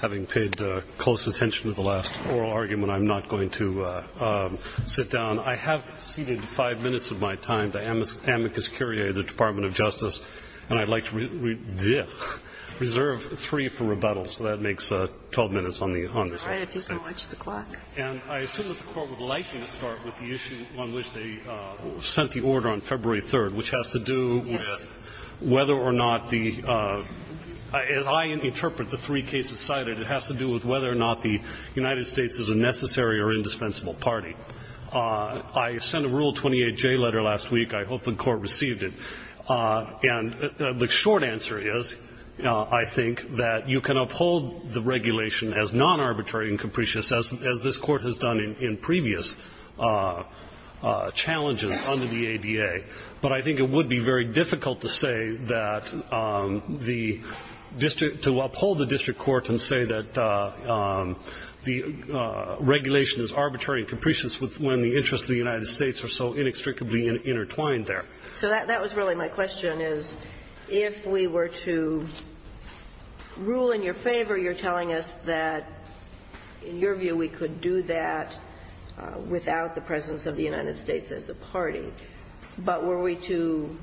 Having paid close attention to the last oral argument, I'm not going to sit down. I have ceded five minutes of my time to Amicus Curiae of the Department of Justice, and I'd like to reserve three for rebuttal. So that makes 12 minutes on the honor's roll. And I assume that the Court would like me to start with the issue on which they sent the order on February 3rd, which has to do with whether or not the – as I interpret the three cases cited, it has to do with whether or not the United States is a necessary or indispensable party. I sent a Rule 28J letter last week. I hope the Court received it. And the short answer is, I think, that you can uphold the regulation as non-arbitrary and capricious, as this Court has done in previous challenges under the ADA. But I think it would be very difficult to say that the district – to uphold the district court and say that the regulation is arbitrary and capricious when the interests of the United States are so inextricably intertwined there. So that was really my question, is if we were to rule in your favor, you're telling us that, in your view, we could do that without the presence of the United States as a party. But were we to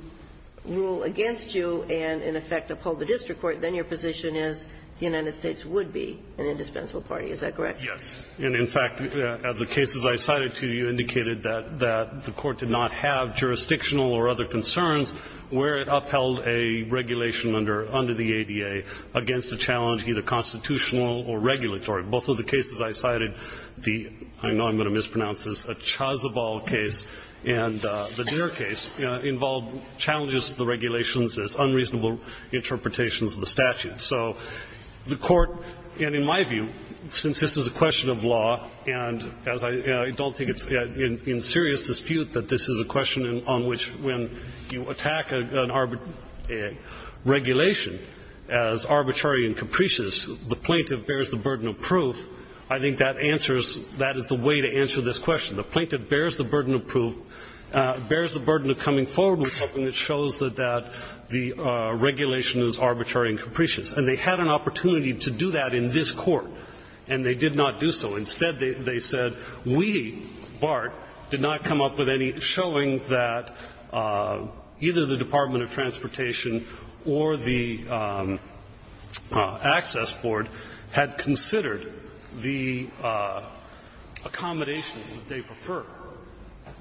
rule against you and, in effect, uphold the district court, then your position is the United States would be an indispensable party. Is that correct? Yes. And, in fact, the cases I cited to you indicated that the Court did not have jurisdictional or other concerns where it upheld a regulation under the ADA against a challenge either constitutional or regulatory. Both of the cases I cited, the – I know I'm going to mispronounce this – the Chazabal case and the Deere case involved challenges to the regulations as unreasonable interpretations of the statute. So the Court – and, in my view, since this is a question of law, and as I don't think it's in serious dispute that this is a question on which, when you attack a regulation as arbitrary and capricious, the plaintiff bears the burden of proof, I think that answers – that is the way to answer this question. The plaintiff bears the burden of proof – bears the burden of coming forward with something that shows that the regulation is arbitrary and capricious. And they had an opportunity to do that in this Court, and they did not do so. Instead, they said, we, BART, did not come up with any – showing that either the Department of Transportation or the Access Board had considered the accommodations that they prefer.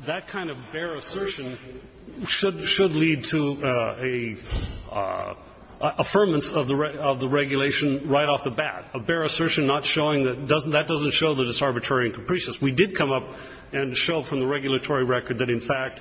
That kind of bare assertion should – should lead to a – affirmance of the – of the regulation right off the bat, a bare assertion not showing that – that doesn't show that it's arbitrary and capricious. We did come up and show from the regulatory record that, in fact,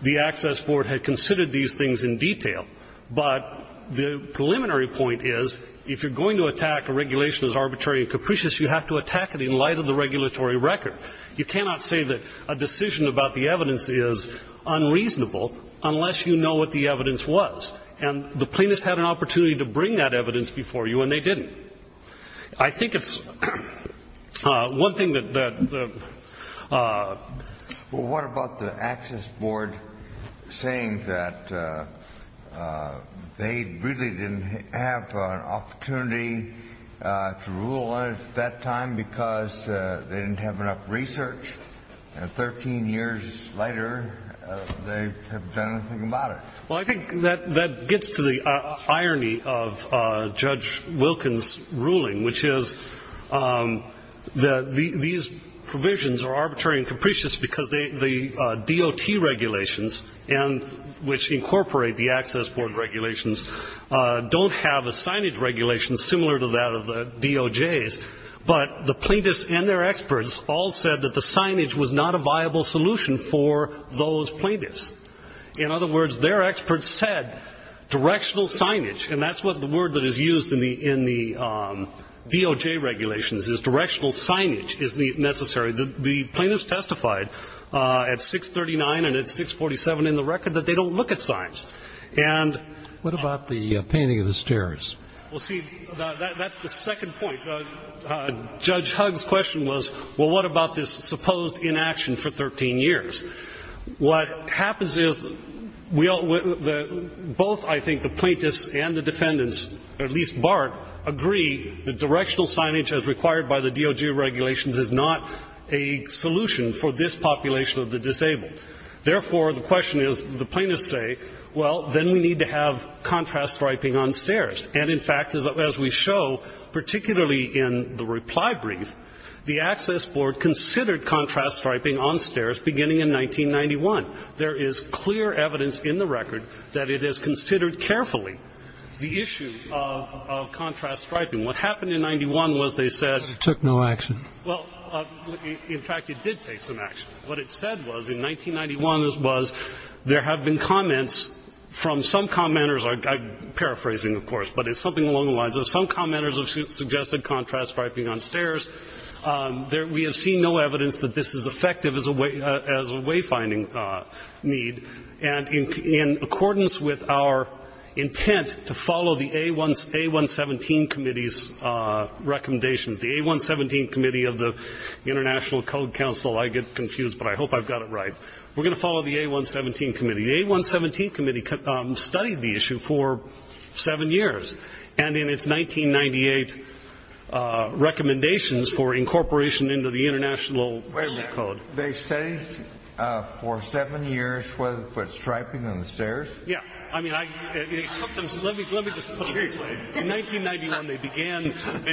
the Access Board had considered these things in detail. But the preliminary point is, if you're going to attack a regulation as arbitrary and capricious, you have to attack it in light of the regulatory record. You cannot say that a decision about the evidence is unreasonable unless you know what the evidence was. And the plaintiffs had an opportunity to bring that evidence before you, and they didn't. I think it's one thing that the – saying that they really didn't have an opportunity to rule on it at that time because they didn't have enough research. And 13 years later, they have done nothing about it. Well, I think that – that gets to the irony of Judge Wilkins' ruling, which is that these provisions are arbitrary and capricious because the DOT regulations, which incorporate the Access Board regulations, don't have a signage regulation similar to that of the DOJ's. But the plaintiffs and their experts all said that the signage was not a viable solution for those plaintiffs. In other words, their experts said directional signage – and that's what the DOJ regulations is – directional signage is necessary. The plaintiffs testified at 639 and at 647 in the record that they don't look at signs. And – What about the painting of the stairs? Well, see, that's the second point. Judge Hugg's question was, well, what about this supposed inaction for 13 years? What happens is we all – both, I think, the plaintiffs and the defendants, or at least BART, agree that directional signage, as required by the DOJ regulations, is not a solution for this population of the disabled. Therefore, the question is – the plaintiffs say, well, then we need to have contrast striping on stairs. And in fact, as we show, particularly in the reply brief, the Access Board considered contrast striping on stairs beginning in 1991. There is clear evidence in the record that it is considered carefully, the issue of contrast striping. What happened in 91 was they said – It took no action. Well, in fact, it did take some action. What it said was in 1991 was there have been comments from some commenters – I'm paraphrasing, of course, but it's something along the lines of some commenters have suggested contrast striping on stairs. We have seen no evidence that this is effective as a way finding need. And in accordance with our intent to follow the A117 Committee's recommendations – the A117 Committee of the International Code Council – I get confused, but I hope I've got it right. We're going to follow the A117 Committee. The A117 Committee studied the issue for seven years. And in its 1998 recommendations for incorporation into the International Code – Wait a minute. They studied for seven years what striping on stairs? Yeah. I mean, let me just put it this way. In 1991, they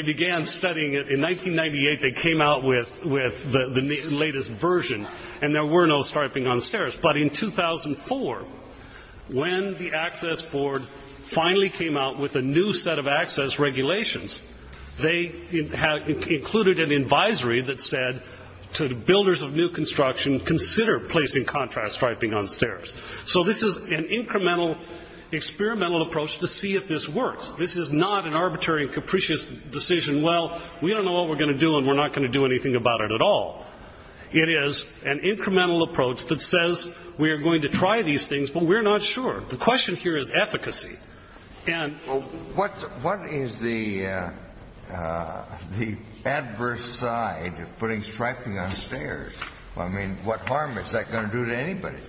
began studying it. In 1998, they came out with the latest version. And there were no striping on stairs. But in 2004, when the Access Board finally came out with a new set of access regulations, they included an advisory that said to the builders of new construction, consider placing contrast striping on stairs. So this is an incremental, experimental approach to see if this works. This is not an arbitrary and capricious decision. Well, we don't know what we're going to do, and we're not going to do anything about it at all. It is an incremental approach that says we are going to try these things, but we're not sure. The question here is efficacy. And – Well, what is the adverse side of putting striping on stairs? I mean, what harm is that going to do to anybody?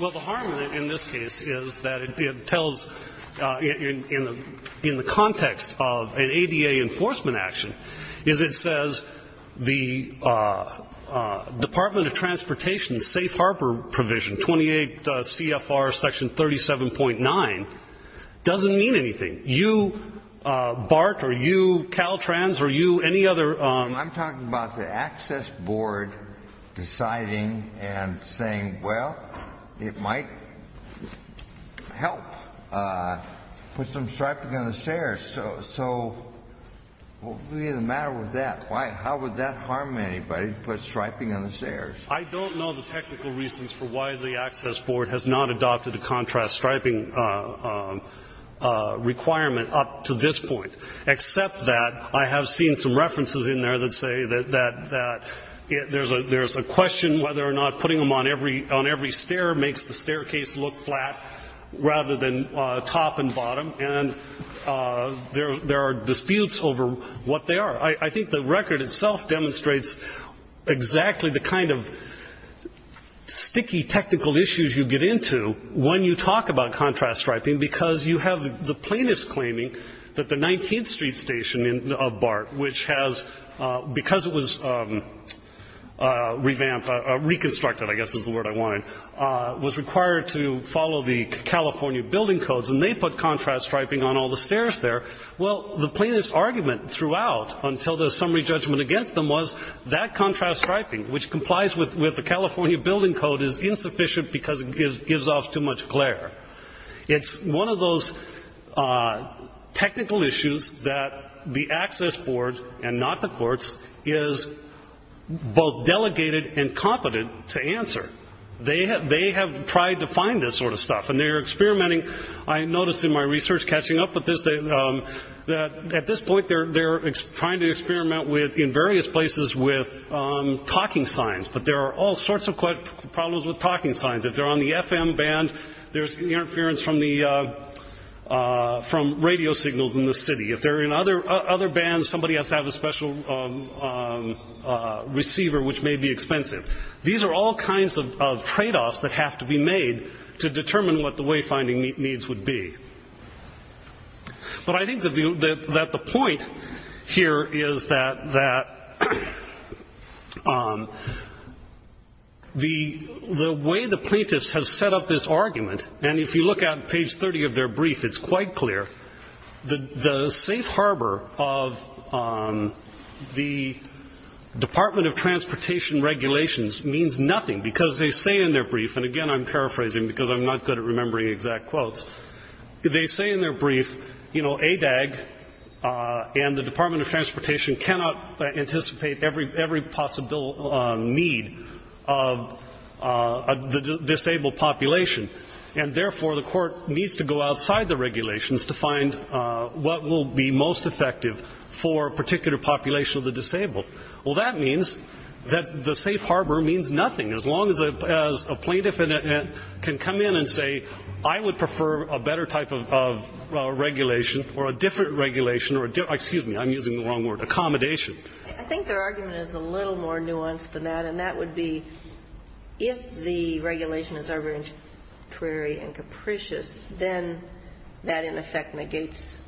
Well, the harm in this case is that it tells – in the context of an ADA enforcement action – is it says the Department of Transportation's safe harbor provision, 28 CFR section 37.9, doesn't mean anything. You, Bart, or you, Caltrans, or you, any other – I'm talking about the Access Board deciding and saying, well, it might help put some striping on the stairs. So what would be the matter with that? How would that harm anybody to put striping on the stairs? I don't know the technical reasons for why the Access Board has not adopted a contrast striping requirement up to this point, except that I have seen some references in there that say that there's a question whether or not putting them on every stair makes the staircase look flat rather than top and bottom. And there are disputes over what they are. I think the record itself demonstrates exactly the kind of sticky technical issues you get into when you talk about contrast striping, because you have the plaintiffs claiming that the 19th Street station of Bart, which has – because it was revamped – reconstructed, I guess is the word I wanted – was required to put contrast striping on all the stairs there. Well, the plaintiffs' argument throughout until the summary judgment against them was that contrast striping, which complies with the California Building Code, is insufficient because it gives off too much glare. It's one of those technical issues that the Access Board, and not the courts, is both delegated and competent to answer. They have tried to find this sort of stuff, and they are experimenting. I noticed in my research, catching up with this, that at this point they're trying to experiment in various places with talking signs, but there are all sorts of problems with talking signs. If they're on the FM band, there's interference from radio signals in the city. If they're in other bands, somebody has to have a special receiver, which may be expensive. These are all kinds of tradeoffs that have to be made to determine what the wayfinding needs would be. But I think that the point here is that the way the plaintiffs have set up this argument – and if you look at page 30 of their brief, it's quite clear – the safe harbor of the Department of Transportation regulations means nothing, because they say in their brief – and again, I'm paraphrasing because I'm not good at remembering exact quotes – they say in their brief, you know, ADAG and the Department of Transportation cannot anticipate every possible need of the disabled population, and therefore the court needs to go outside the regulations to find what will be most effective for a particular population of the disabled. Well, that means that the safe harbor means nothing, as long as a plaintiff can come in and say, I would prefer a better type of regulation or a different regulation or a different – excuse me, I'm using the wrong word – accommodation. I think their argument is a little more nuanced than that, and that would be if the regulation is arbitrary and capricious, then that in effect negates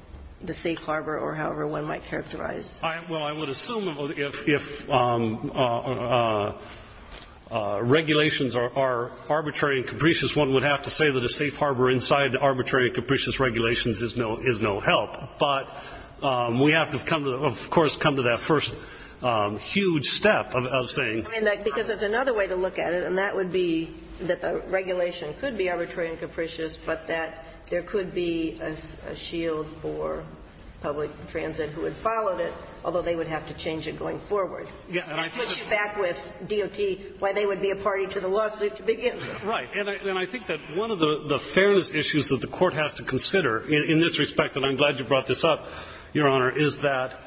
the safe harbor or however one might characterize it. Well, I would assume if regulations are arbitrary and capricious, one would have to say that a safe harbor inside the arbitrary and capricious regulations is no help. But we have to come to the – of course, come to that first huge step of saying – I mean, because there's another way to look at it, and that would be that the regulation could be arbitrary and capricious, but that there could be a shield for public transit who had followed it, although they would have to change it going forward. It puts you back with DOT, why they would be a party to the lawsuit to begin with. Right. And I think that one of the fairness issues that the Court has to consider in this respect, and I'm glad you brought this up, Your Honor, is that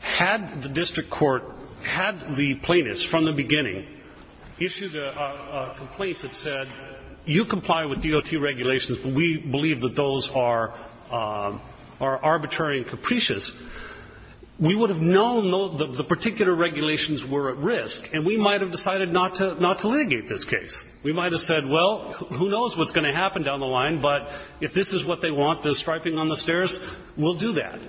had the district court had the plaintiffs from the beginning issued a complaint that said, you comply with DOT regulations, but we believe that those are arbitrary and capricious, we would have known that the particular regulations were at risk, and we might have decided not to litigate this case. We might have said, well, who knows what's going to happen down the line, but if this is what they want, the striping on the stairs, we'll do that.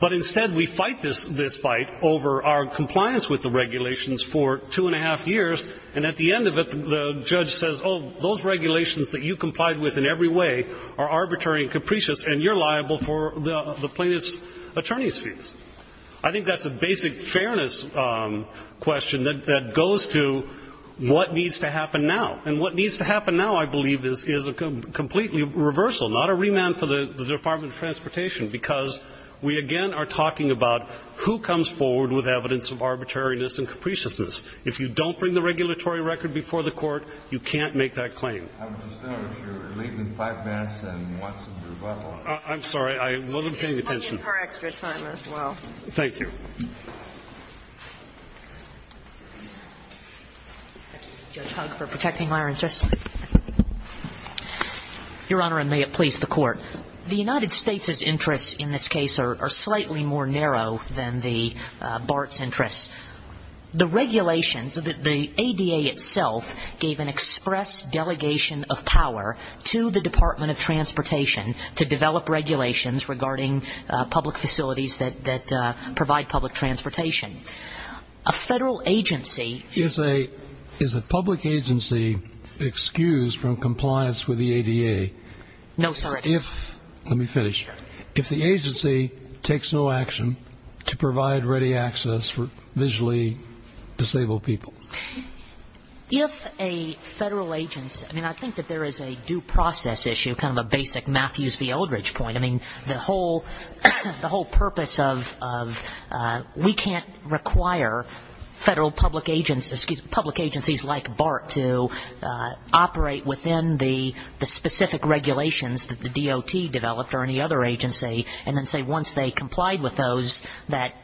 But instead we fight this fight over our compliance with the regulations for two and a half years, and at the end of it the judge says, oh, those regulations that you complied with in every way are arbitrary and capricious, and you're liable for the plaintiff's attorney's fees. I think that's a basic fairness question that goes to what needs to happen now. And what needs to happen now, I believe, is a completely reversal, not a remand for the plaintiff. We again are talking about who comes forward with evidence of arbitrariness and capriciousness. If you don't bring the regulatory record before the court, you can't make that claim. I was just wondering if you're leaving five minutes, and you want some rebuttal. I'm sorry. I wasn't paying attention. We'll give her extra time as well. Thank you. Thank you, Judge Hugg, for protecting my interests. Your Honor, and may it please the Court. The United States' interests in this case are slightly more narrow than the BART's interests. The regulations, the ADA itself gave an express delegation of power to the Department of Transportation to develop regulations regarding public facilities that provide public transportation. A federal agency Is a public agency excused from compliance with the ADA? No, sir. Let me finish. If the agency takes no action to provide ready access for visually disabled people? If a federal agency, I mean, I think that there is a due process issue, kind of a basic Matthews v. Eldridge point. I mean, the whole purpose of, we can't require federal public agencies like BART to operate within the specific regulations that the DOT developed or any other agency and then say once they complied with those that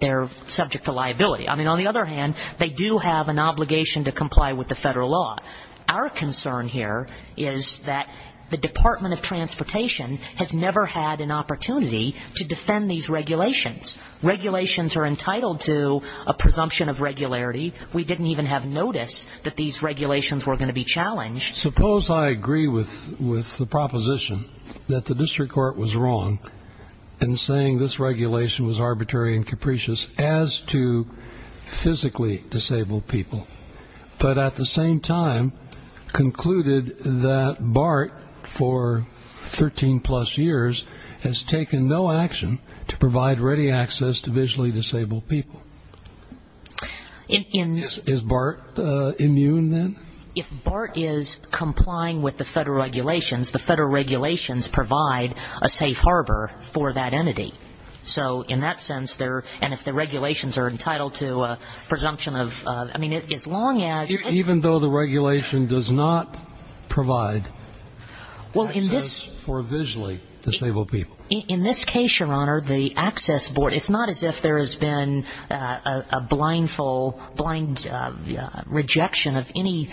they're subject to liability. I mean, on the other hand, they do have an obligation to comply with the federal law. Our concern here is that the Department of Transportation has never had an opportunity to defend these regulations. Regulations are entitled to a presumption of regularity. We didn't even have notice that these regulations were going to be challenged. Suppose I agree with the proposition that the district court was wrong in saying this regulation was arbitrary and capricious as to physically disabled people, but at the same time concluded that BART for 13 plus years has taken no action to provide ready access to visually disabled people. Is BART immune then? If BART is complying with the federal regulations, the federal regulations provide a safe harbor for that entity. So in that sense, and if the regulations are entitled to a presumption of, I mean, as long as Even though the regulation does not provide access for visually disabled people. In this case, Your Honor, the access board, it's not as if there has been a blind rejection of any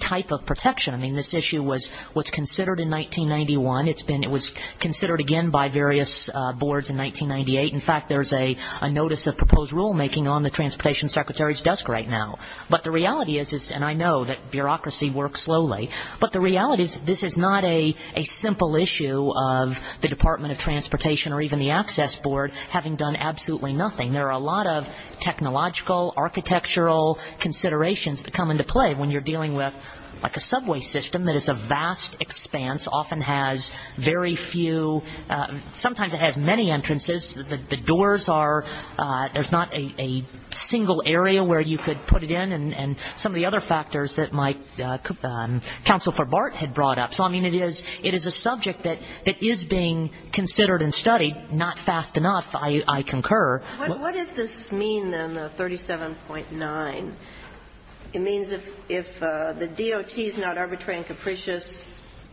type of protection. I mean, this issue was considered in 1991. It was considered again by various boards in 1998. In fact, there's a notice of proposed rulemaking on the Transportation Secretary's desk right now. But the reality is, and I know that bureaucracy works slowly, but the reality is this is not a simple issue of the Department of Transportation or even the access board having done absolutely nothing. There are a lot of technological, architectural considerations that come into play when you're dealing with, like, a subway system that is a vast expanse, often has very few, sometimes it has many entrances, the doors are, there's not a single area where you could put it in, and some of the other factors that Council for BART had brought up. So, I mean, it is a subject that is being considered and studied. Not fast enough, I concur. What does this mean, then, 37.9? It means if the DOT is not arbitrary and capricious,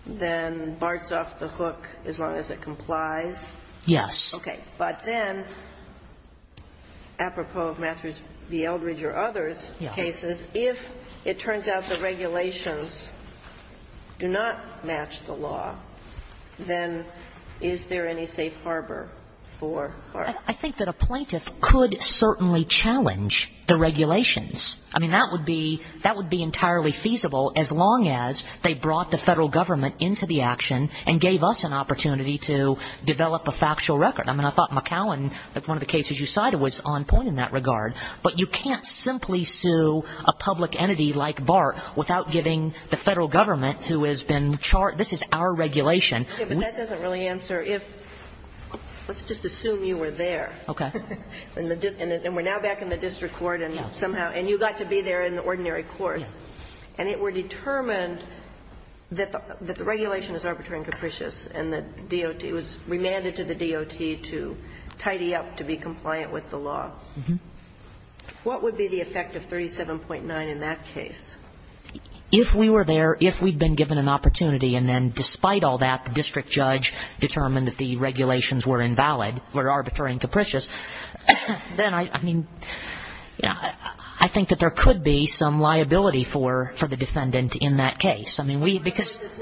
then BART's off the hook as long as it complies? Yes. Okay. But then, apropos of Matthews v. Eldridge or others' cases, if it turns out the regulations do not match the law, then is there any safe harbor for BART? I think that a plaintiff could certainly challenge the regulations. I mean, that would be entirely feasible as long as they brought the Federal government into the action and gave us an opportunity to develop a factual record. I mean, I thought McAllen, one of the cases you cited, was on point in that regard. But you can't simply sue a public entity like BART without giving the Federal government, who has been charged, this is our regulation. Yes, but that doesn't really answer if – let's just assume you were there. Okay. And we're now back in the district court and somehow – and you got to be there in the ordinary court. And it were determined that the regulation is arbitrary and capricious and the DOT was remanded to the DOT to tidy up, to be compliant with the law. What would be the effect of 37.9 in that case? If we were there, if we'd been given an opportunity and then despite all that, the district judge determined that the regulations were invalid, were arbitrary and capricious, then I mean, I think that there could be some liability for the defendant in that case. I mean, we – because –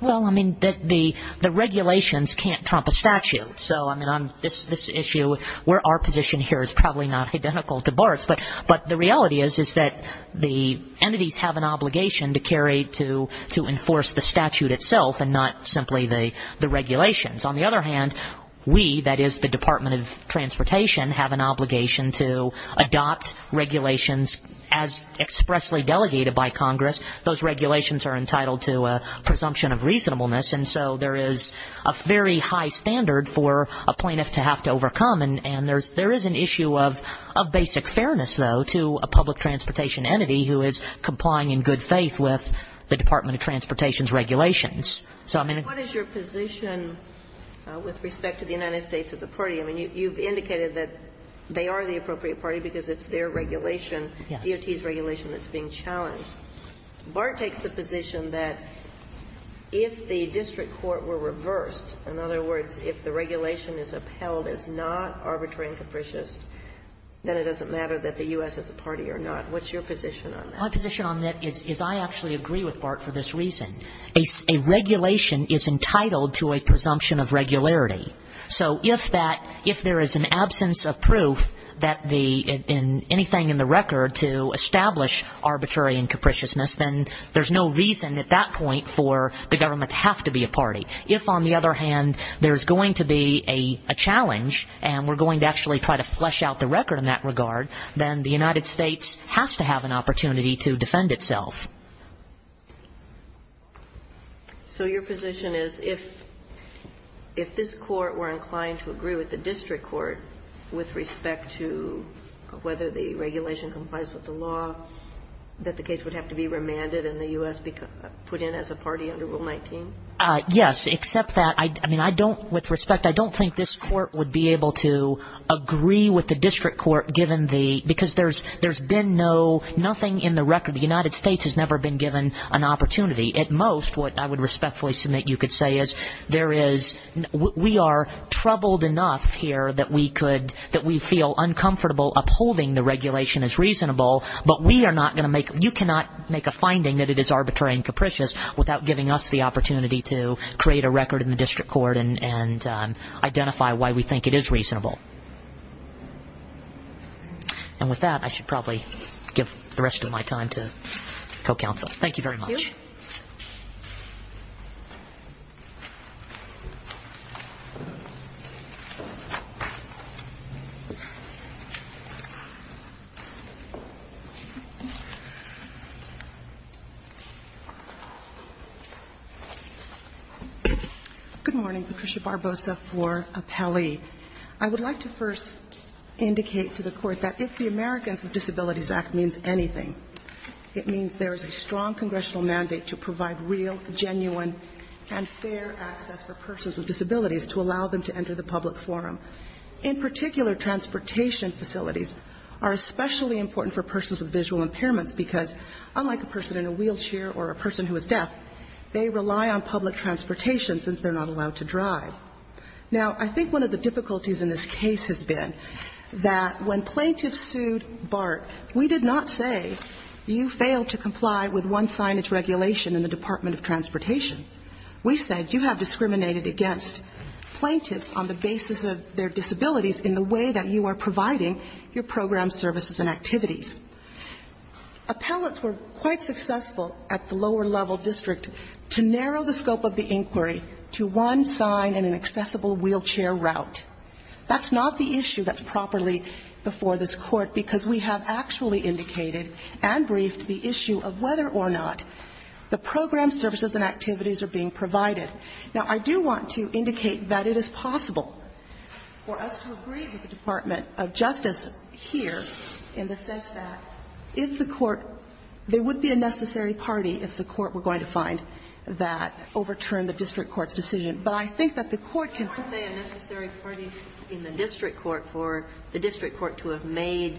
Well, I mean, the regulations can't trump a statute. So, I mean, on this issue, where our position here is probably not identical to BART's. But the reality is, is that the entities have an obligation to carry – to enforce the statute itself and not simply the regulations. On the other hand, we, that is the Department of Transportation, have an obligation to adopt regulations as expressly delegated by Congress. Those regulations are entitled to a presumption of reasonableness. And so there is a very high standard for a plaintiff to have to overcome. And there is an issue of basic fairness, though, to a public transportation entity who is complying in good faith with the Department of Transportation's regulations. So, I mean – What is your position with respect to the United States as a party? I mean, you've indicated that they are the appropriate party because it's their regulation, DOT's regulation that's being challenged. BART takes the position that if the district court were reversed, in other words, if the regulation is upheld as not arbitrary and capricious, then it doesn't matter that the U.S. is a party or not. What's your position on that? My position on that is I actually agree with BART for this reason. A regulation is entitled to a presumption of regularity. So if that – if there is an absence of proof that the – in anything in the record to establish arbitrary and capriciousness, then there's no reason at that point for the government to have to be a party. If, on the other hand, there's going to be a challenge and we're going to actually try to flesh out the record in that regard, then the United States has to have an opportunity to defend itself. So your position is if – if this court were inclined to agree with the district court with respect to whether the regulation complies with the law, that the case would have to be remanded and the U.S. put in as a party under Rule 19? Yes, except that – I mean, I don't – with respect, I don't think this court would be able to agree with the district court given the – because there's – there's been no – nothing in the record – the United States has never been given an opportunity. At most, what I would respectfully submit you could say is there is – we are troubled enough here that we could – that we feel uncomfortable upholding the regulation as reasonable, but we are not going to make – you cannot make a finding that it is arbitrary and capricious without giving us the opportunity to create a record in the district court and identify why we think it is reasonable. And with that, I should probably give the rest of my time to co-counsel. Thank you very much. Thank you. Good morning. Patricia Barbosa for Apelli. I would like to first indicate to the Court that if the Americans with Disabilities Act means anything, it means there is a strong congressional mandate to provide real, genuine, and fair access for persons with disabilities to allow them to enter the public forum. In particular, transportation facilities are especially important for persons with visual impairments because, unlike a person in a wheelchair or a person who is deaf, they rely on public transportation since they're not allowed to drive. Now, I think one of the difficulties in this case has been that when plaintiffs sued BART, we did not say you failed to comply with one signage regulation in the Department of Transportation. We said you have discriminated against plaintiffs on the basis of their disabilities in the way that you are providing your program services and activities. Appellants were quite successful at the lower-level district to narrow the scope of the inquiry to one sign and an accessible wheelchair route. That's not the issue that's properly before this Court because we have actually indicated and briefed the issue of whether or not the program services and activities are being provided. Now, I do want to indicate that it is possible for us to agree with the Department of Justice here in the sense that if the Court – there would be a necessary party if the Court were going to find that, overturn the district court's decision. But I think that the Court can – But is there a necessary party in the district court for the district court to have made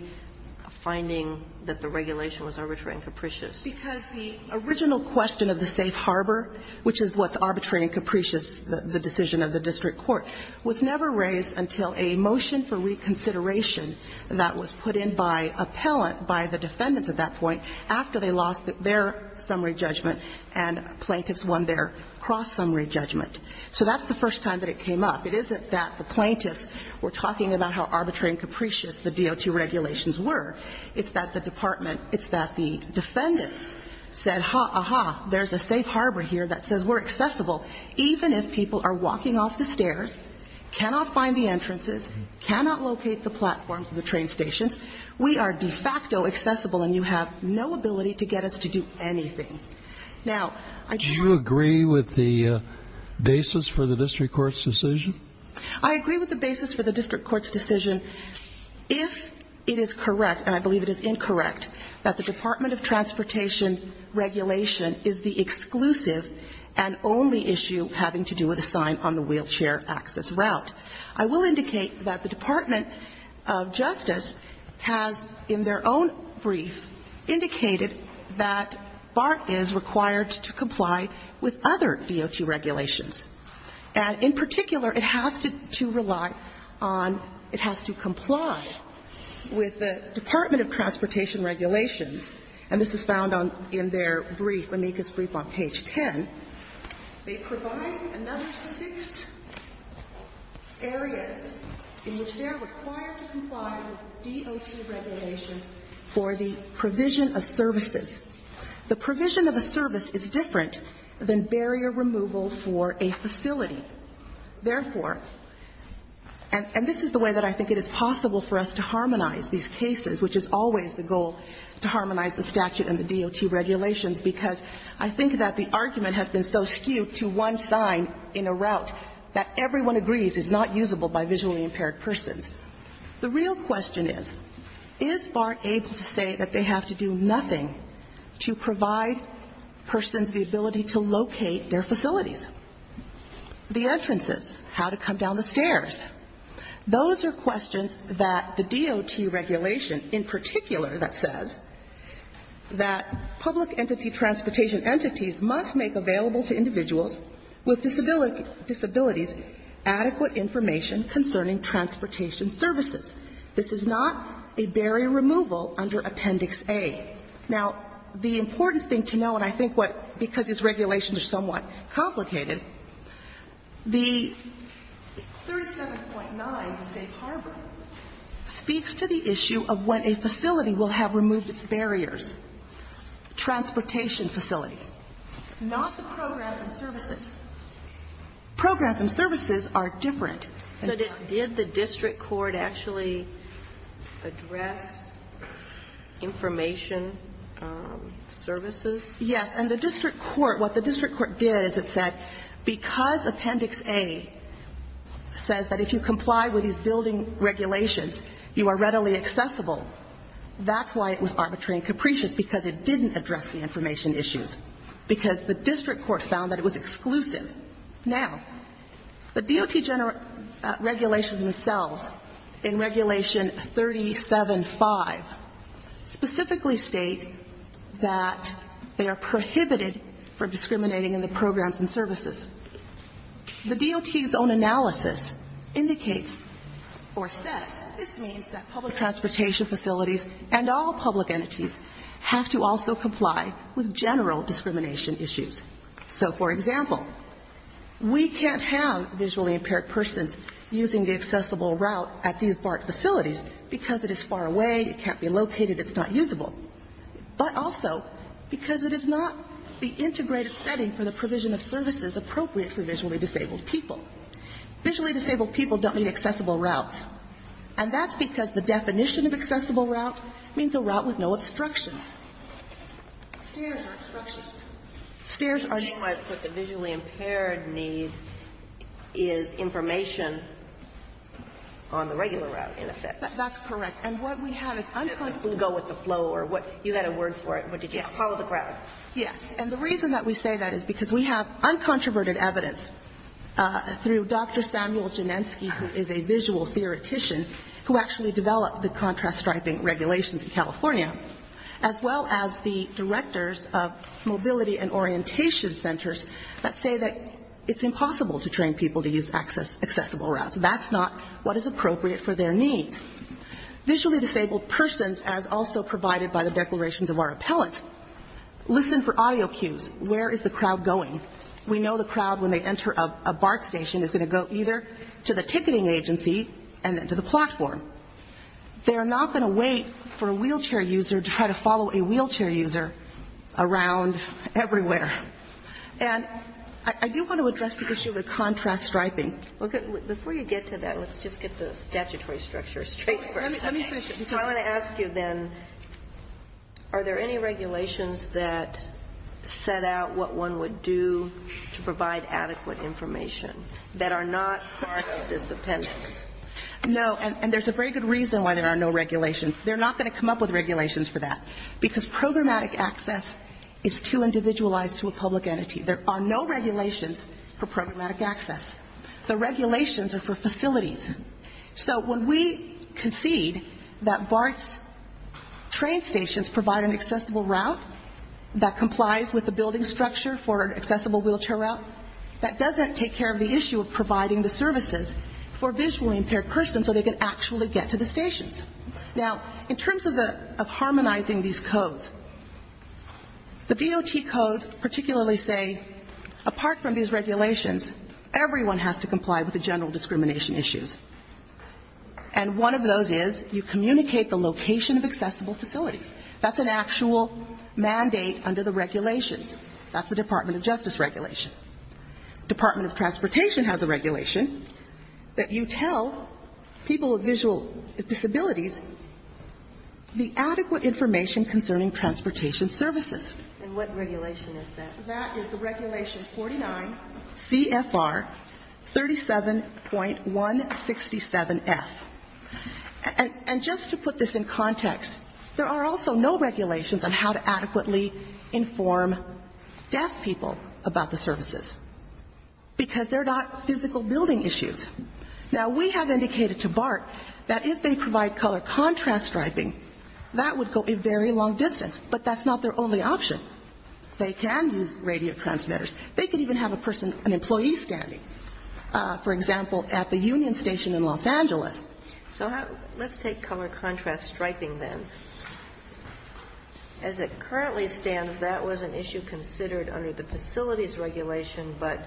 a finding that the regulation was arbitrary and capricious? Because the original question of the safe harbor, which is what's arbitrary and capricious, the decision of the district court, was never raised until a motion for reconsideration that was put in by appellant, by the defendants at that point, after they lost their summary judgment and plaintiffs won their cross-summary judgment. So that's the first time that it came up. It isn't that the plaintiffs were talking about how arbitrary and capricious the DOT regulations were. It's that the department – it's that the defendants said, aha, there's a safe harbor here that says we're accessible even if people are walking off the stairs, cannot find the entrances, cannot locate the platforms of the train stations. We are de facto accessible and you have no ability to get us to do anything. Now, I do have to – Do you agree with the basis for the district court's decision? I agree with the basis for the district court's decision if it is correct, and I believe it is incorrect, that the Department of Transportation regulation is the exclusive and only issue having to do with a sign on the wheelchair access route. I will indicate that the Department of Justice has, in their own brief, indicated that BART is required to comply with other DOT regulations. And in particular, it has to rely on – it has to comply with the Department of Transportation regulations, and this is found in their brief, Amika's brief on page 10. They provide another six areas in which they are required to comply with DOT regulations for the provision of services. The provision of a service is different than barrier removal for a facility. Therefore – and this is the way that I think it is possible for us to harmonize these cases, which is always the goal, to harmonize the statute and the DOT regulations, because I think that the argument has been so skewed to one sign in a route that everyone agrees is not usable by visually impaired persons. The real question is, is BART able to say that they have to do nothing to provide persons the ability to locate their facilities? The entrances, how to come down the stairs, those are questions that the DOT regulation, in particular, that says that public entity transportation entities must make available to individuals with disabilities adequate information concerning transportation services. This is not a barrier removal under Appendix A. Now, the important thing to know, and I think what – because these regulations are somewhat complicated, the 37.9 Safe Harbor speaks to the issue of when a facility will have removed its barriers. Transportation facility. Not the programs and services. Programs and services are different. So did the district court actually address information services? Yes. And the district court – what the district court did is it said, because Appendix A says that if you comply with these building regulations, you are readily accessible, that's why it was arbitrary and capricious, because it didn't address the information issues, because the district court found that it was exclusive. Now, the DOT regulations themselves, in Regulation 37.5, specifically state that they are prohibited for discriminating in the programs and services. The DOT's own analysis indicates or says this means that public transportation facilities and all public entities have to also comply with general discrimination issues. So for example, we can't have visually impaired persons using the accessible route at these BART facilities because it is far away, it can't be located, it's not usable, but also because it is not the integrated setting for the provision of services appropriate for visually disabled people. Visually disabled people don't need accessible routes. And that's because the definition of accessible route means a route with no obstructions. Stairs are obstructions. Stairs are needed. So you might put the visually impaired need is information on the regular route, in effect. And the reason that we say that is because we have uncontroverted evidence through Dr. Samuel Janensky, who is a visual theoretician, who actually developed the contrast striping regulations in California, as well as the directors of mobility and orientation centers that say that it's impossible to train people to use accessible routes. That's not what is appropriate for their needs. Visually disabled persons, as also provided by the declarations of our appellate, listen for audio cues. Where is the crowd going? We know the crowd, when they enter a BART station, is going to go either to the ticketing agency and then to the platform. They are not going to wait for a wheelchair user to try to follow a wheelchair user around everywhere. And I do want to address the issue of the contrast striping. Before you get to that, let's just get the statutory structure straight for a second. So I want to ask you then, are there any regulations that set out what one would do to provide adequate information that are not part of this appendix? No. And there's a very good reason why there are no regulations. They're not going to come up with regulations for that. Because programmatic access is too individualized to a public entity. There are no regulations for programmatic access. The regulations are for facilities. So when we concede that BART's train stations provide an accessible route that complies with the building structure for an accessible wheelchair route, that doesn't take care of the issue of providing the services for visually impaired persons so they can actually get to the stations. Now, in terms of harmonizing these codes, the DOT codes particularly say, apart from these regulations, everyone has to comply with the general discrimination issues. And one of those is you communicate the location of accessible facilities. That's an actual mandate under the regulations. That's the Department of Justice regulation. Department of Transportation has a regulation that you tell people with visual disabilities the adequate information concerning transportation services. And what regulation is that? That is the regulation 49 CFR 37.167F. And just to put this in context, there are also no regulations on how to adequately inform deaf people about the services, because they're not physical building issues. Now, we have indicated to BART that if they provide color contrast striping, that would go a very long distance. But that's not their only option. They can use radio transmitters. They could even have a person, an employee standing, for example, at the union station in Los Angeles. So let's take color contrast striping then. As it currently stands, that was an issue considered under the facilities regulation, but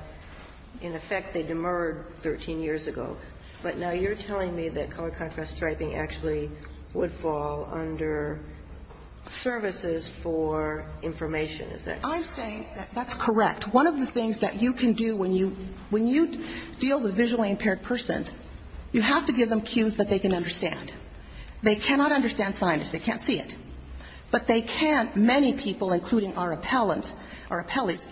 in effect they demurred 13 years ago. But now you're telling me that color contrast striping actually would fall under services for information. Is that correct? I'm saying that that's correct. One of the things that you can do when you deal with visually impaired persons, you have to give them cues that they can understand. They cannot understand signage. They can't see it. But they can, many people, including our appellants, our scribes.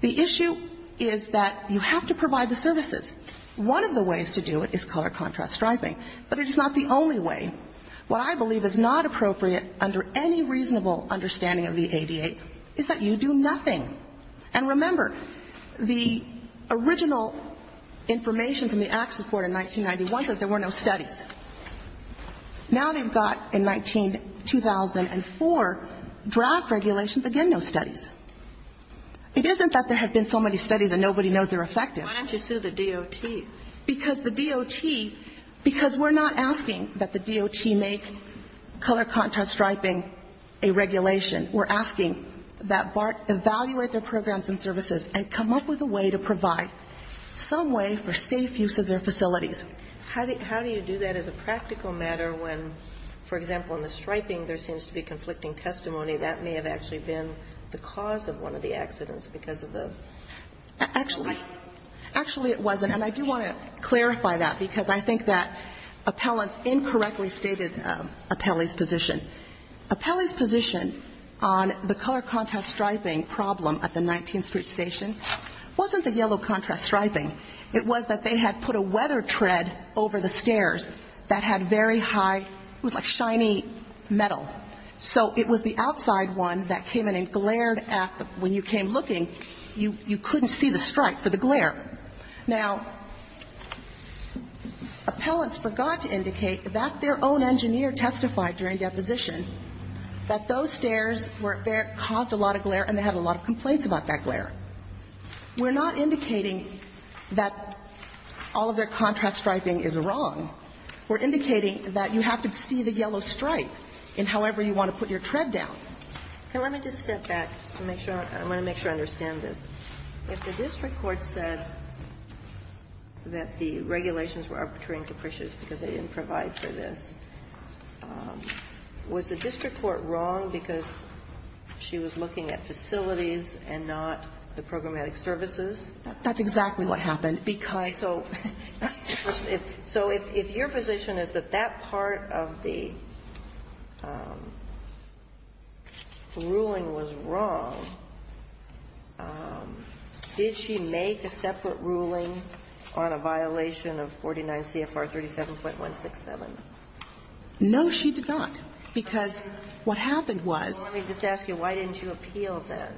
The issue is that you have to provide the services. One of the ways to do it is color contrast striping. But it is not the only way. What I believe is not appropriate under any reasonable understanding of the ADA is that you do nothing. And remember, the original information from the Access Board in 1991 said there were no studies. Now they've got, in 2004, draft regulations, again no studies. It isn't that there have been so many studies and nobody knows they're effective. Why don't you sue the DOT? Because the DOT, because we're not asking that the DOT make color contrast striping a regulation. We're asking that BART evaluate their programs and services and come up with a way to provide some way for safe use of their facilities. How do you do that as a practical matter when, for example, in the striping there seems to be conflicting testimony that may have actually been the cause of one of the accidents because of the? Actually, it wasn't. And I do want to clarify that, because I think that appellants incorrectly stated Appelli's position. Appelli's position on the color contrast striping problem at the 19th Street Station wasn't the yellow contrast striping. It was that they had put a weather tread over the stairs that had very high, it was a shiny metal. So it was the outside one that came in and glared at the, when you came looking, you couldn't see the stripe for the glare. Now, appellants forgot to indicate that their own engineer testified during deposition that those stairs caused a lot of glare and they had a lot of complaints about that glare. We're not indicating that all of their contrast striping is wrong. We're indicating that you have to see the yellow stripe in however you want to put your tread down. And let me just step back to make sure, I want to make sure I understand this. If the district court said that the regulations were arbitrary and capricious because they didn't provide for this, was the district court wrong because she was looking at facilities and not the programmatic services? That's exactly what happened. And because So if your position is that that part of the ruling was wrong, did she make a separate ruling on a violation of 49 CFR 37.167? No, she did not. Because what happened was Let me just ask you, why didn't you appeal then?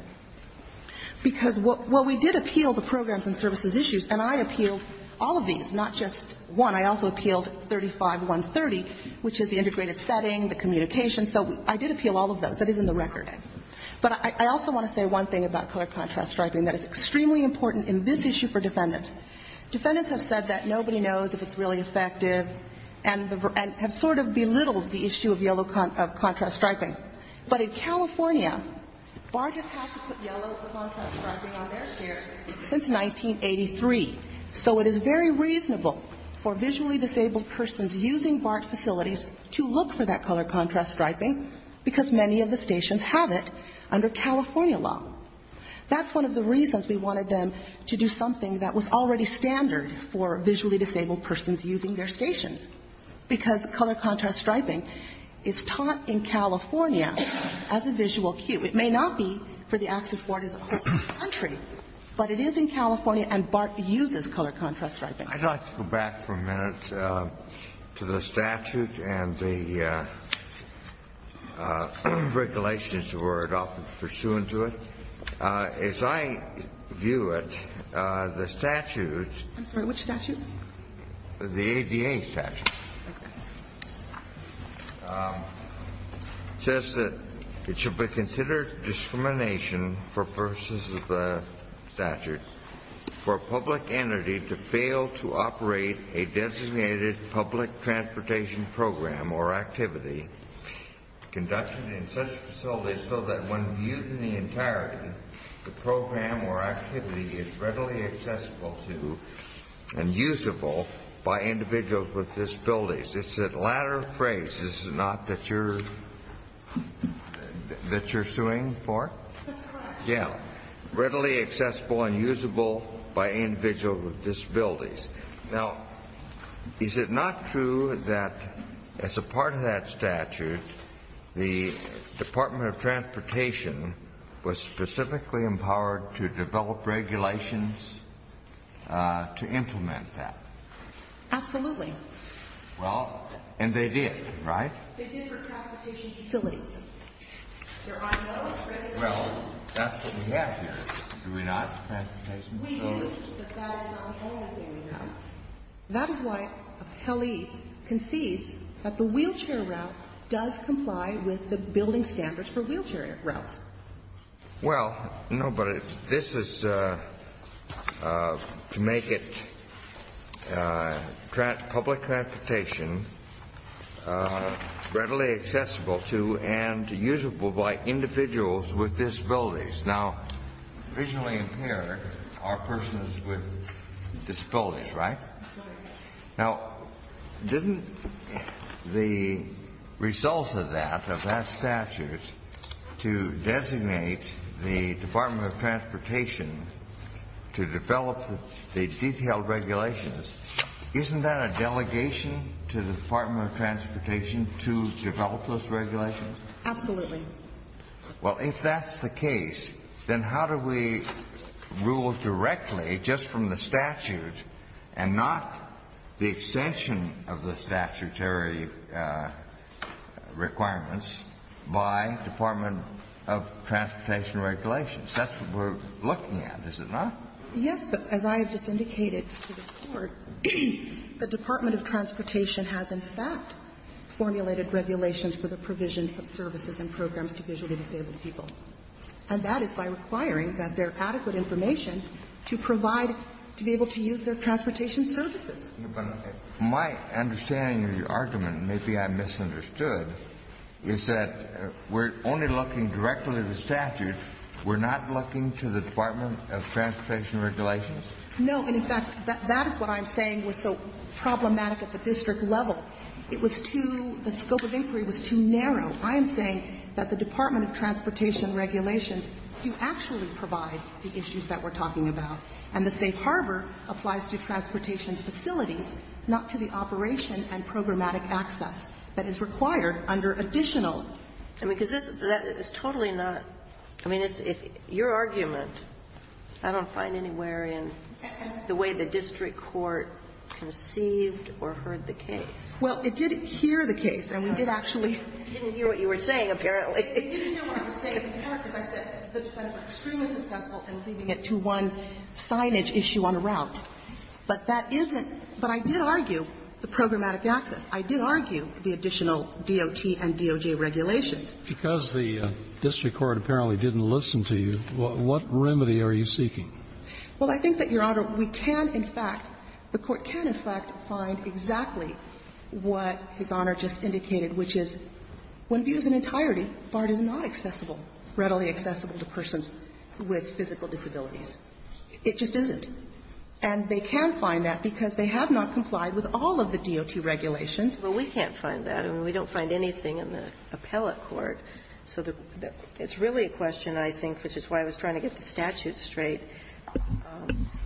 Because while we did appeal the programs and services issues, and I appealed all of these, not just one. I also appealed 35.130, which is the integrated setting, the communication. So I did appeal all of those. That is in the record. But I also want to say one thing about color contrast striping that is extremely important in this issue for defendants. Defendants have said that nobody knows if it's really effective and have sort of belittled the issue of yellow contrast striping. But in California, BART has had to put yellow contrast striping on their stairs since 1983. So it is very reasonable for visually disabled persons using BART facilities to look for that color contrast striping because many of the stations have it under California law. That's one of the reasons we wanted them to do something that was already standard for visually disabled persons using their stations, because color contrast striping is taught in California as a visual cue. It may not be for the access borders of the whole country, but it is in California, and BART uses color contrast striping. I'd like to go back for a minute to the statute and the regulations that were often pursuant to it. As I view it, the statute. I'm sorry. Which statute? The ADA statute. It says that it should be considered discrimination for purposes of the statute for a public entity to fail to operate a designated public transportation program or activity conducted in such facilities so that when viewed in the entirety, the program or activity is readily accessible to and usable by individuals with disabilities. It's that latter phrase, is it not, that you're suing for? That's correct. Yeah. Readily accessible and usable by individuals with disabilities. Now, is it not true that as a part of that statute, the Department of Transportation was specifically empowered to develop regulations to implement that? Absolutely. Well, and they did, right? They did for transportation facilities. There are no regulations. Well, that's what we have here. Do we not, transportation facilities? We do, but that is not the only thing we have. That is why an appellee concedes that the wheelchair route does comply with the building standards for wheelchair routes. Well, no, but this is to make it public transportation readily accessible to and usable by individuals with disabilities. Now, visually impaired are persons with disabilities, right? Right. Now, didn't the result of that, of that statute, to designate the Department of Transportation to develop the detailed regulations, isn't that a delegation to the Department of Transportation to develop those regulations? Absolutely. Well, if that's the case, then how do we rule directly just from the statute and not the extension of the statutory requirements by Department of Transportation regulations? That's what we're looking at, is it not? Yes, but as I have just indicated to the Court, the Department of Transportation has in fact formulated regulations for the provision of services and programs to visually disabled people. And that is by requiring that there are adequate information to provide, to be able to use their transportation services. My understanding of your argument, maybe I misunderstood, is that we're only looking directly at the statute. We're not looking to the Department of Transportation regulations? No. And in fact, that is what I'm saying was so problematic at the district level. It was too, the scope of inquiry was too narrow. I am saying that the Department of Transportation regulations do actually provide the issues that we're talking about. And the safe harbor applies to transportation facilities, not to the operation and programmatic access that is required under additional. I mean, because this is totally not, I mean, your argument, I don't find anywhere in the way the district court conceived or heard the case. Well, it did hear the case, and we did actually. It didn't hear what you were saying, apparently. It didn't hear what I was saying. As I said, the Department was extremely successful in leading it to one signage issue on the route. But that isn't, but I did argue the programmatic access. I did argue the additional DOT and DOJ regulations. Because the district court apparently didn't listen to you, what remedy are you seeking? Well, I think that, Your Honor, we can, in fact, the Court can, in fact, find exactly what His Honor just indicated, which is when viewed as an entirety, BART is not accessible, readily accessible to persons with physical disabilities. It just isn't. And they can find that because they have not complied with all of the DOT regulations. Well, we can't find that. I mean, we don't find anything in the appellate court. So it's really a question, I think, which is why I was trying to get the statute straight.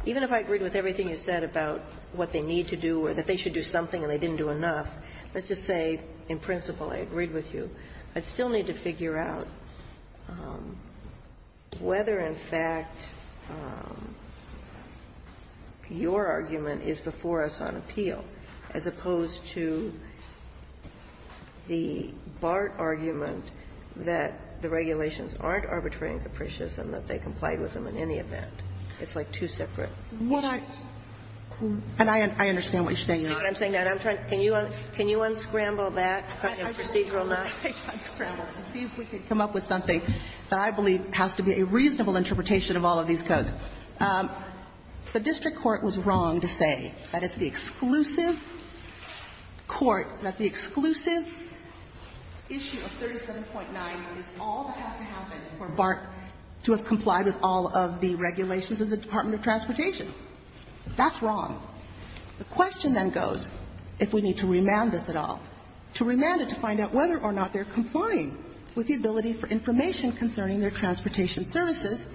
Even if I agreed with everything you said about what they need to do or that they should do something and they didn't do enough, let's just say in principle I agreed with you. I'd still need to figure out whether, in fact, your argument is before us on appeal as opposed to the BART argument that the regulations aren't arbitrary and capricious and that they complied with them in any event. It's like two separate issues. And I understand what you're saying, Your Honor. See what I'm saying? I understand that. I'm trying to see if we can come up with something that I believe has to be a reasonable interpretation of all of these codes. The district court was wrong to say that it's the exclusive court, that the exclusive issue of 37.9 is all that has to happen for BART to have complied with all of the regulations of the Department of Transportation. That's wrong. The question then goes, if we need to remand this at all, to remand it to find out whether or not they're complying with the ability for information concerning their transportation services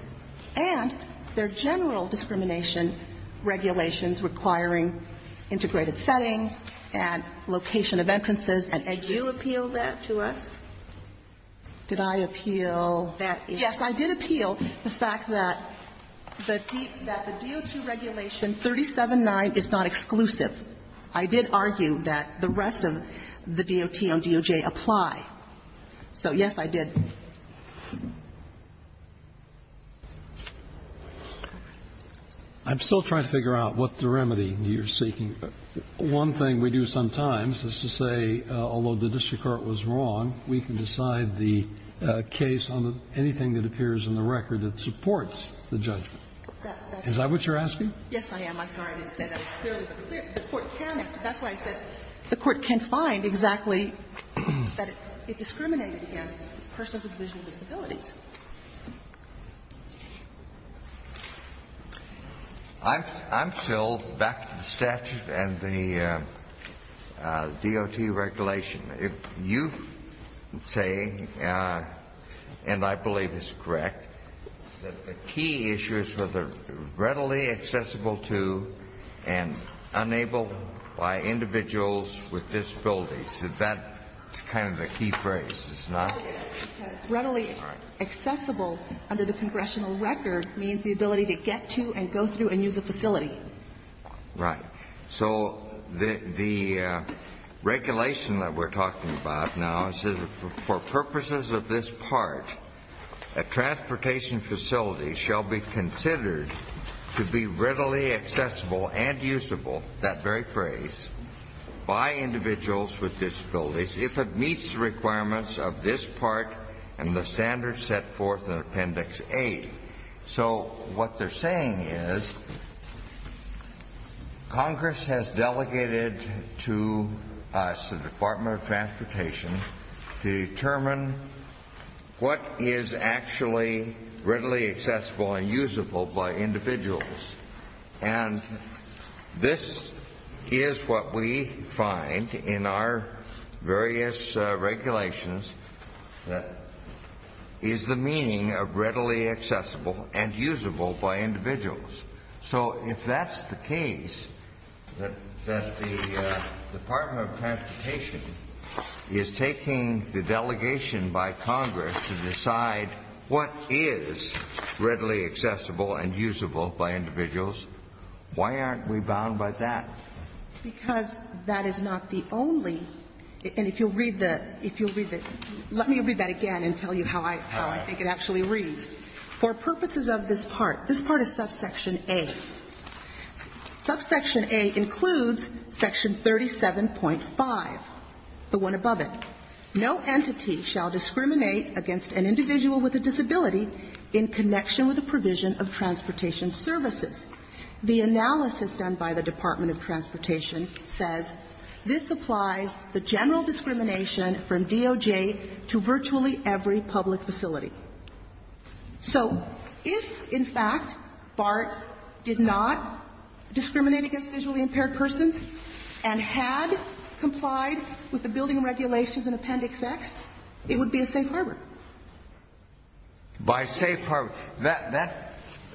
and their general discrimination regulations requiring integrated setting and location of entrances and exits. Did you appeal that to us? Did I appeal that? Yes, I did appeal the fact that the DO2 regulation 37.9 is not exclusive. I did argue that the rest of the DOT on DOJ apply. So, yes, I did. I'm still trying to figure out what the remedy you're seeking. One thing we do sometimes is to say, although the district court was wrong, we can decide the case on anything that appears in the record that supports the judgment. Is that what you're asking? Yes, I am. I'm sorry I didn't say that. It's fairly clear. The court can. That's why I said the court can find exactly that it discriminated against persons with visual disabilities. I'm still back to the statute and the DOT regulation. You say, and I believe this is correct, that the key issues were the readily accessible to and unable by individuals with disabilities. That's kind of the key phrase, is it not? It's readily accessible under the congressional record means the ability to get to and go through and use a facility. Right. So the regulation that we're talking about now is for purposes of this part, a transportation facility shall be considered to be readily accessible and usable, that very phrase, by individuals with disabilities if it meets the requirements of this part and the standards set forth in Appendix A. So what they're saying is Congress has delegated to us, the Department of Transportation, to determine what is actually readily accessible and usable by individuals. And this is what we find in our various regulations, is the meaning of readily accessible and usable by individuals. So if that's the case, that the Department of Transportation is taking the delegation by Congress to decide what is readily accessible and usable by individuals, why aren't we bound by that? Because that is not the only, and if you'll read the, if you'll read the, let me read that again and tell you how I, how I think it actually reads. For purposes of this part, this part is subsection A. Subsection A includes section 37.5, the one above it. No entity shall discriminate against an individual with a disability in connection with the provision of transportation services. The analysis done by the Department of Transportation says this applies the general discrimination from DOJ to virtually every public facility. So if, in fact, BART did not discriminate against visually impaired persons and had complied with the building regulations in Appendix X, it would be a safe harbor. By safe harbor. That,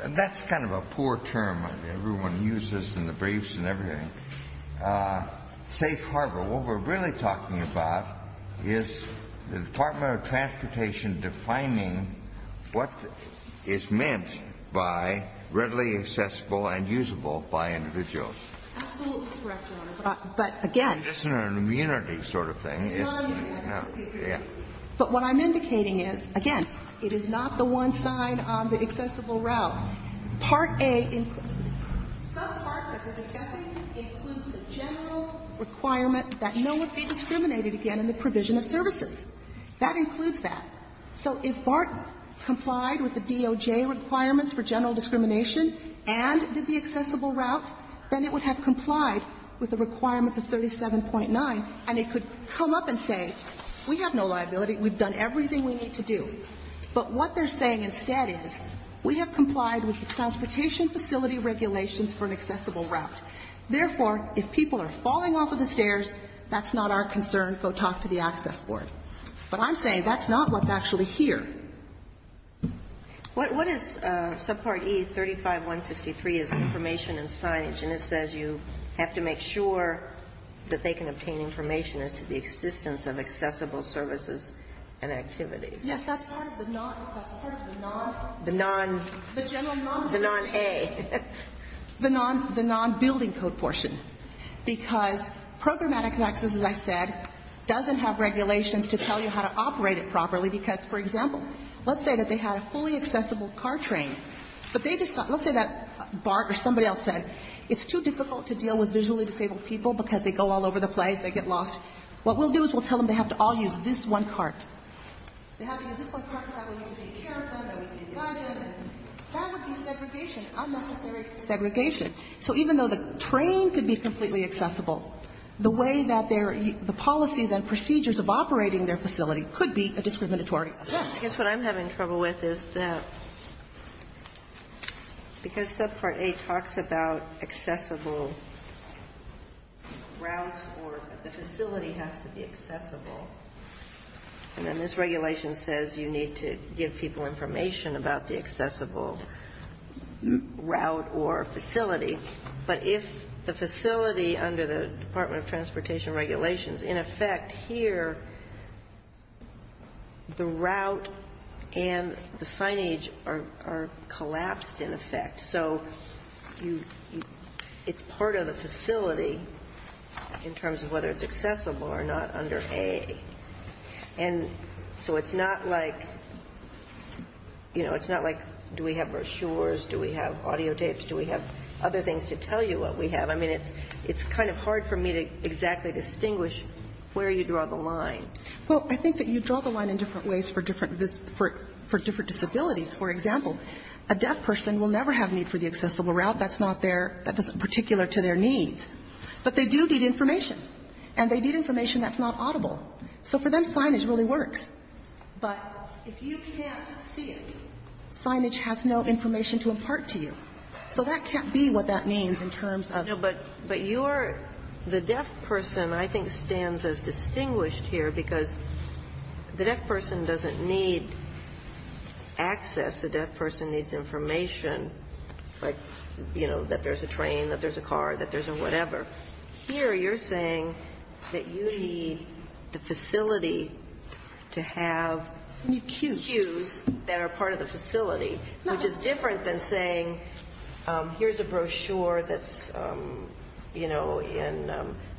that's kind of a poor term. Everyone uses this in the briefs and everything. Safe harbor. What we're really talking about is the Department of Transportation defining what is meant by readily accessible and usable by individuals. Absolutely correct, Your Honor. But again. It's not an immunity sort of thing. It's not an immunity. Yeah. But what I'm indicating is, again, it is not the one sign on the accessible route. Part A includes, some part that we're discussing includes the general requirement that no one be discriminated against in the provision of services. That includes that. So if BART complied with the DOJ requirements for general discrimination and did the accessible route, then it would have complied with the requirements of 37.9, and it could come up and say, we have no liability. We've done everything we need to do. But what they're saying instead is, we have complied with the transportation facility regulations for an accessible route. Therefore, if people are falling off of the stairs, that's not our concern. Go talk to the access board. But I'm saying that's not what's actually here. What is subpart E35163 is information and signage, and it says you have to make sure that they can obtain information as to the existence of accessible services and activities. Yes, that's part of the non- The non- The general non- The non-A. The non-building code portion. Because programmatic access, as I said, doesn't have regulations to tell you how to operate it properly. Because, for example, let's say that they had a fully accessible car train. But they decide, let's say that BART or somebody else said, it's too difficult to deal with visually disabled people because they go all over the place. They get lost. What we'll do is we'll tell them they have to all use this one cart. They have to use this one cart because that way we can take care of them and we can guide them. That would be segregation, unnecessary segregation. So even though the train could be completely accessible, the way that their the policies and procedures of operating their facility could be a discriminatory effect. I guess what I'm having trouble with is that because subpart A talks about accessible routes or the facility has to be accessible, and then this regulation says you need to give people information about the accessible route or facility. But if the facility under the Department of Transportation regulations, in effect here, the route and the signage are collapsed, in effect. So it's part of the facility in terms of whether it's accessible or not under A. And so it's not like, you know, it's not like do we have brochures, do we have audio tapes, do we have other things to tell you what we have. I mean, it's kind of hard for me to exactly distinguish where you draw the line. Well, I think that you draw the line in different ways for different disabilities. For example, a deaf person will never have need for the accessible route. That's not their particular to their needs. But they do need information, and they need information that's not audible. So for them, signage really works. But if you can't see it, signage has no information to impart to you. So that can't be what that means in terms of. No, but you're the deaf person I think stands as distinguished here because the deaf person doesn't need access. The deaf person needs information, like, you know, that there's a train, that there's a car, that there's a whatever. Here you're saying that you need the facility to have cues that are part of the facility, which is different than saying here's a brochure that's, you know,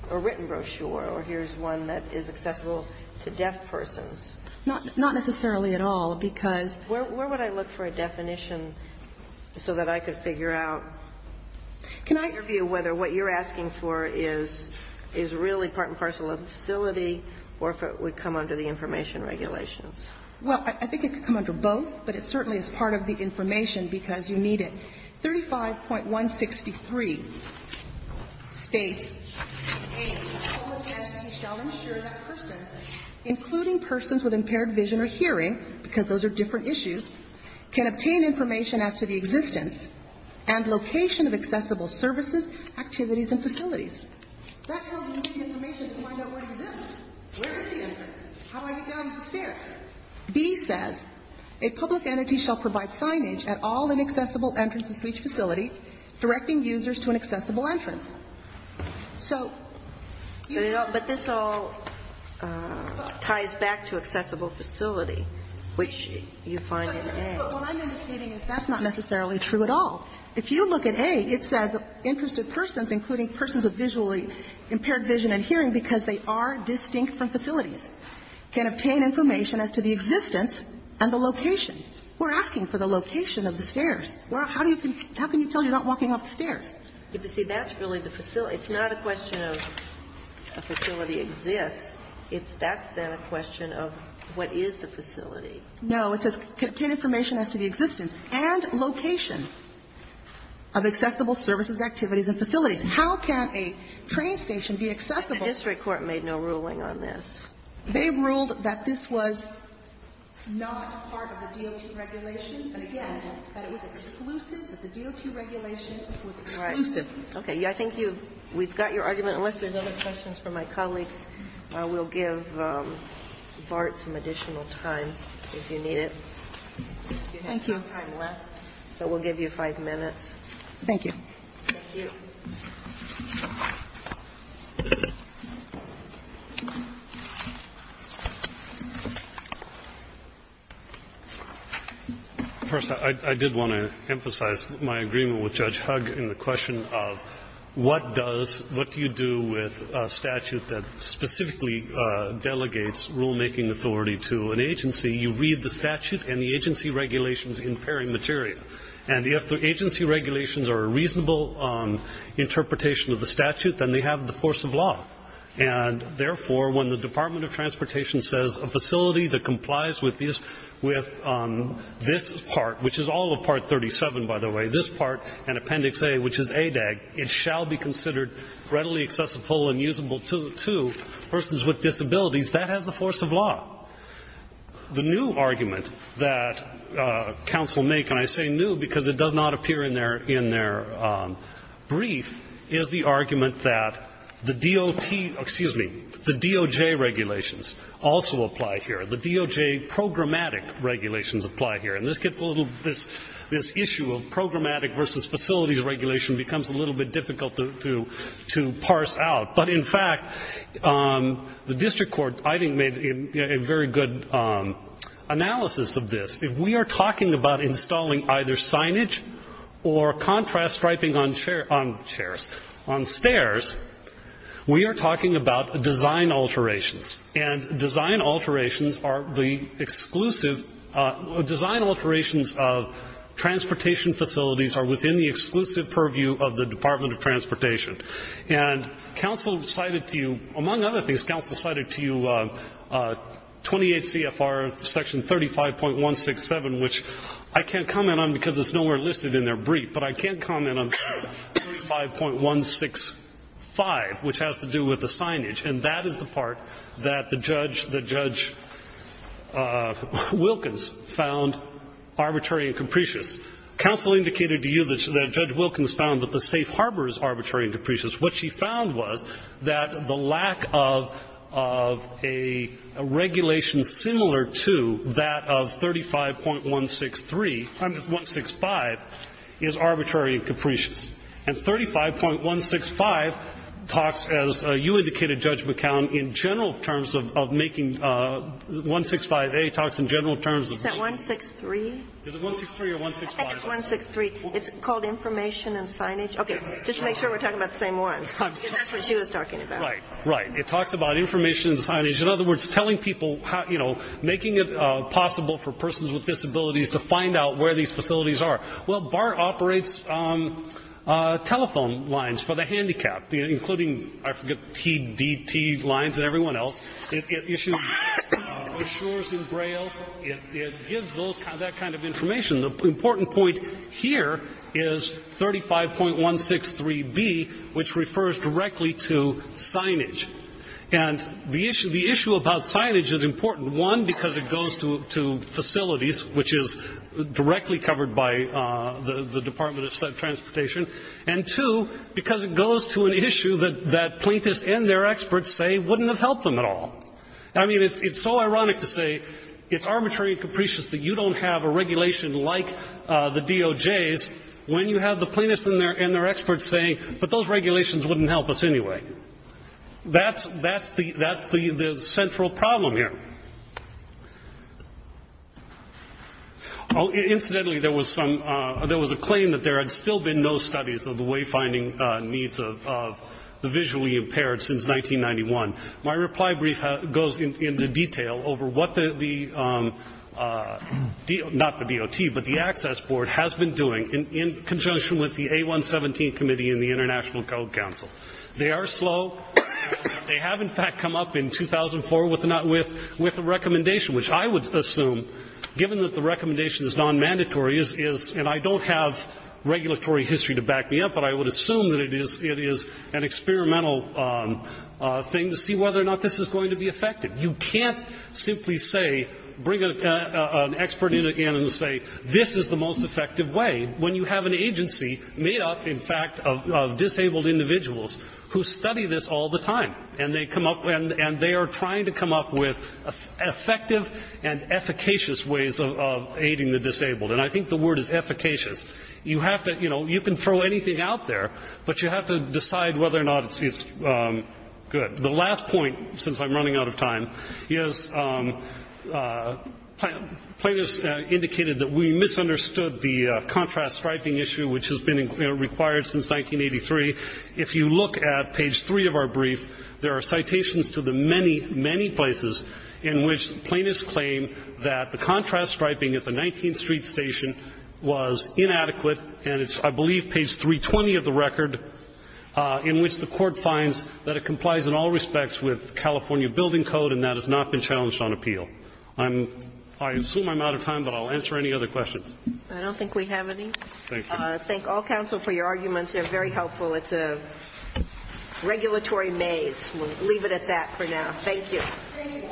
a written brochure, or here's one that is accessible to deaf persons. Not necessarily at all, because. Where would I look for a definition so that I could figure out in your view whether what you're asking for is really part and parcel of the facility or if it would come under the information regulations? Well, I think it could come under both, but it certainly is part of the information because you need it. 35.163 states, A, a public entity shall ensure that persons, including persons with impaired vision or hearing, because those are different issues, can obtain information as to the existence and location of accessible services, activities, and facilities. That tells you the information to find out where it exists. Where is the entrance? How do I get down the stairs? B says, a public entity shall provide signage at all inaccessible entrances to each facility, directing users to an accessible entrance. So you don't But this all ties back to accessible facility, which you find in A. What I'm indicating is that's not necessarily true at all. If you look at A, it says interested persons, including persons with visually impaired vision and hearing, because they are distinct from facilities, can obtain information as to the existence and the location. We're asking for the location of the stairs. How can you tell you're not walking up the stairs? But, you see, that's really the facility. It's not a question of a facility exists. That's then a question of what is the facility. No. It says can obtain information as to the existence and location of accessible services, activities, and facilities. How can a train station be accessible? The district court made no ruling on this. They ruled that this was not part of the DOT regulations, and again, that it was exclusive, that the DOT regulation was exclusive. All right. Okay. I think you've got your argument. Unless there's other questions from my colleagues, we'll give BART some additional time if you need it. Thank you. You have some time left, but we'll give you five minutes. Thank you. Thank you. First, I did want to emphasize my agreement with Judge Hugg in the question of what does, what do you do with a statute that specifically delegates rulemaking authority to an agency? You read the statute and the agency regulations in peri materia. And if the agency regulations are a reasonable interpretation of the statute, then they have the force of law. And, therefore, when the Department of Transportation says a facility that complies with this part, which is all of Part 37, by the way, this part, and Appendix A, which is ADAG, it shall be considered readily accessible and usable That has the force of law. The new argument that counsel make, and I say new because it does not appear in their, in their brief, is the argument that the DOT, excuse me, the DOJ regulations also apply here. The DOJ programmatic regulations apply here. And this gets a little, this issue of programmatic versus facilities regulation becomes a little bit difficult to parse out. But, in fact, the district court, I think, made a very good analysis of this. If we are talking about installing either signage or contrast striping on chair, on chairs, on stairs, we are talking about design alterations. And design alterations are the exclusive, design alterations of transportation facilities are within the exclusive purview of the Department of Transportation. And counsel cited to you, among other things, counsel cited to you 28 CFR Section 35.167, which I can't comment on because it's nowhere listed in their brief. But I can comment on 35.165, which has to do with the signage. And that is the part that the judge, that Judge Wilkins found arbitrary and capricious. Counsel indicated to you that Judge Wilkins found that the safe harbor is arbitrary and capricious. What she found was that the lack of a regulation similar to that of 35.163, I mean 165, is arbitrary and capricious. And 35.165 talks, as you indicated, Judge McCown, in general terms of making 165A talks in general terms of making. 163? Is it 163 or 165? I think it's 163. It's called information and signage. Okay. Just to make sure we're talking about the same one. Because that's what she was talking about. Right. Right. It talks about information and signage. In other words, telling people how, you know, making it possible for persons with disabilities to find out where these facilities are. Well, BAR operates telephone lines for the handicapped, including, I forget, TDT lines and everyone else. It issues brochures in Braille. It gives that kind of information. The important point here is 35.163B, which refers directly to signage. And the issue about signage is important, one, because it goes to facilities, which is directly covered by the Department of Transportation, and two, because it goes to an issue that plaintiffs and their experts say wouldn't have helped them at all. I mean, it's so ironic to say it's arbitrary and capricious that you don't have a regulation like the DOJ's when you have the plaintiffs and their experts saying, but those regulations wouldn't help us anyway. That's the central problem here. Incidentally, there was a claim that there had still been no studies of the wayfinding needs of the visually impaired since 1991. My reply brief goes into detail over what the DOT, not the DOT, but the Access Board has been doing in conjunction with the A117 Committee and the International Code Council. They are slow. They have, in fact, come up in 2004 with a recommendation, which I would assume, given that the recommendation is nonmandatory, is, and I don't have regulatory history to back me up, but I would assume that it is an experimental thing to see whether or not this is going to be effective. You can't simply say, bring an expert in again and say this is the most effective way when you have an agency made up, in fact, of disabled individuals who study this all the time, and they come up and they are trying to come up with effective and efficacious ways of aiding the disabled. And I think the word is efficacious. You have to, you know, you can throw anything out there, but you have to decide whether or not it's good. The last point, since I'm running out of time, is plaintiffs indicated that we misunderstood the contrast striping issue, which has been required since 1983. If you look at page 3 of our brief, there are citations to the many, many places in which plaintiffs claim that the contrast striping at the 19th Street station was inadequate, and it's, I believe, page 320 of the record, in which the Court finds that it complies in all respects with California building code, and that has not been challenged on appeal. I assume I'm out of time, but I'll answer any other questions. I don't think we have any. Thank you. I thank all counsel for your arguments. They're very helpful. It's a regulatory maze. We'll leave it at that for now. Thank you. Thank you.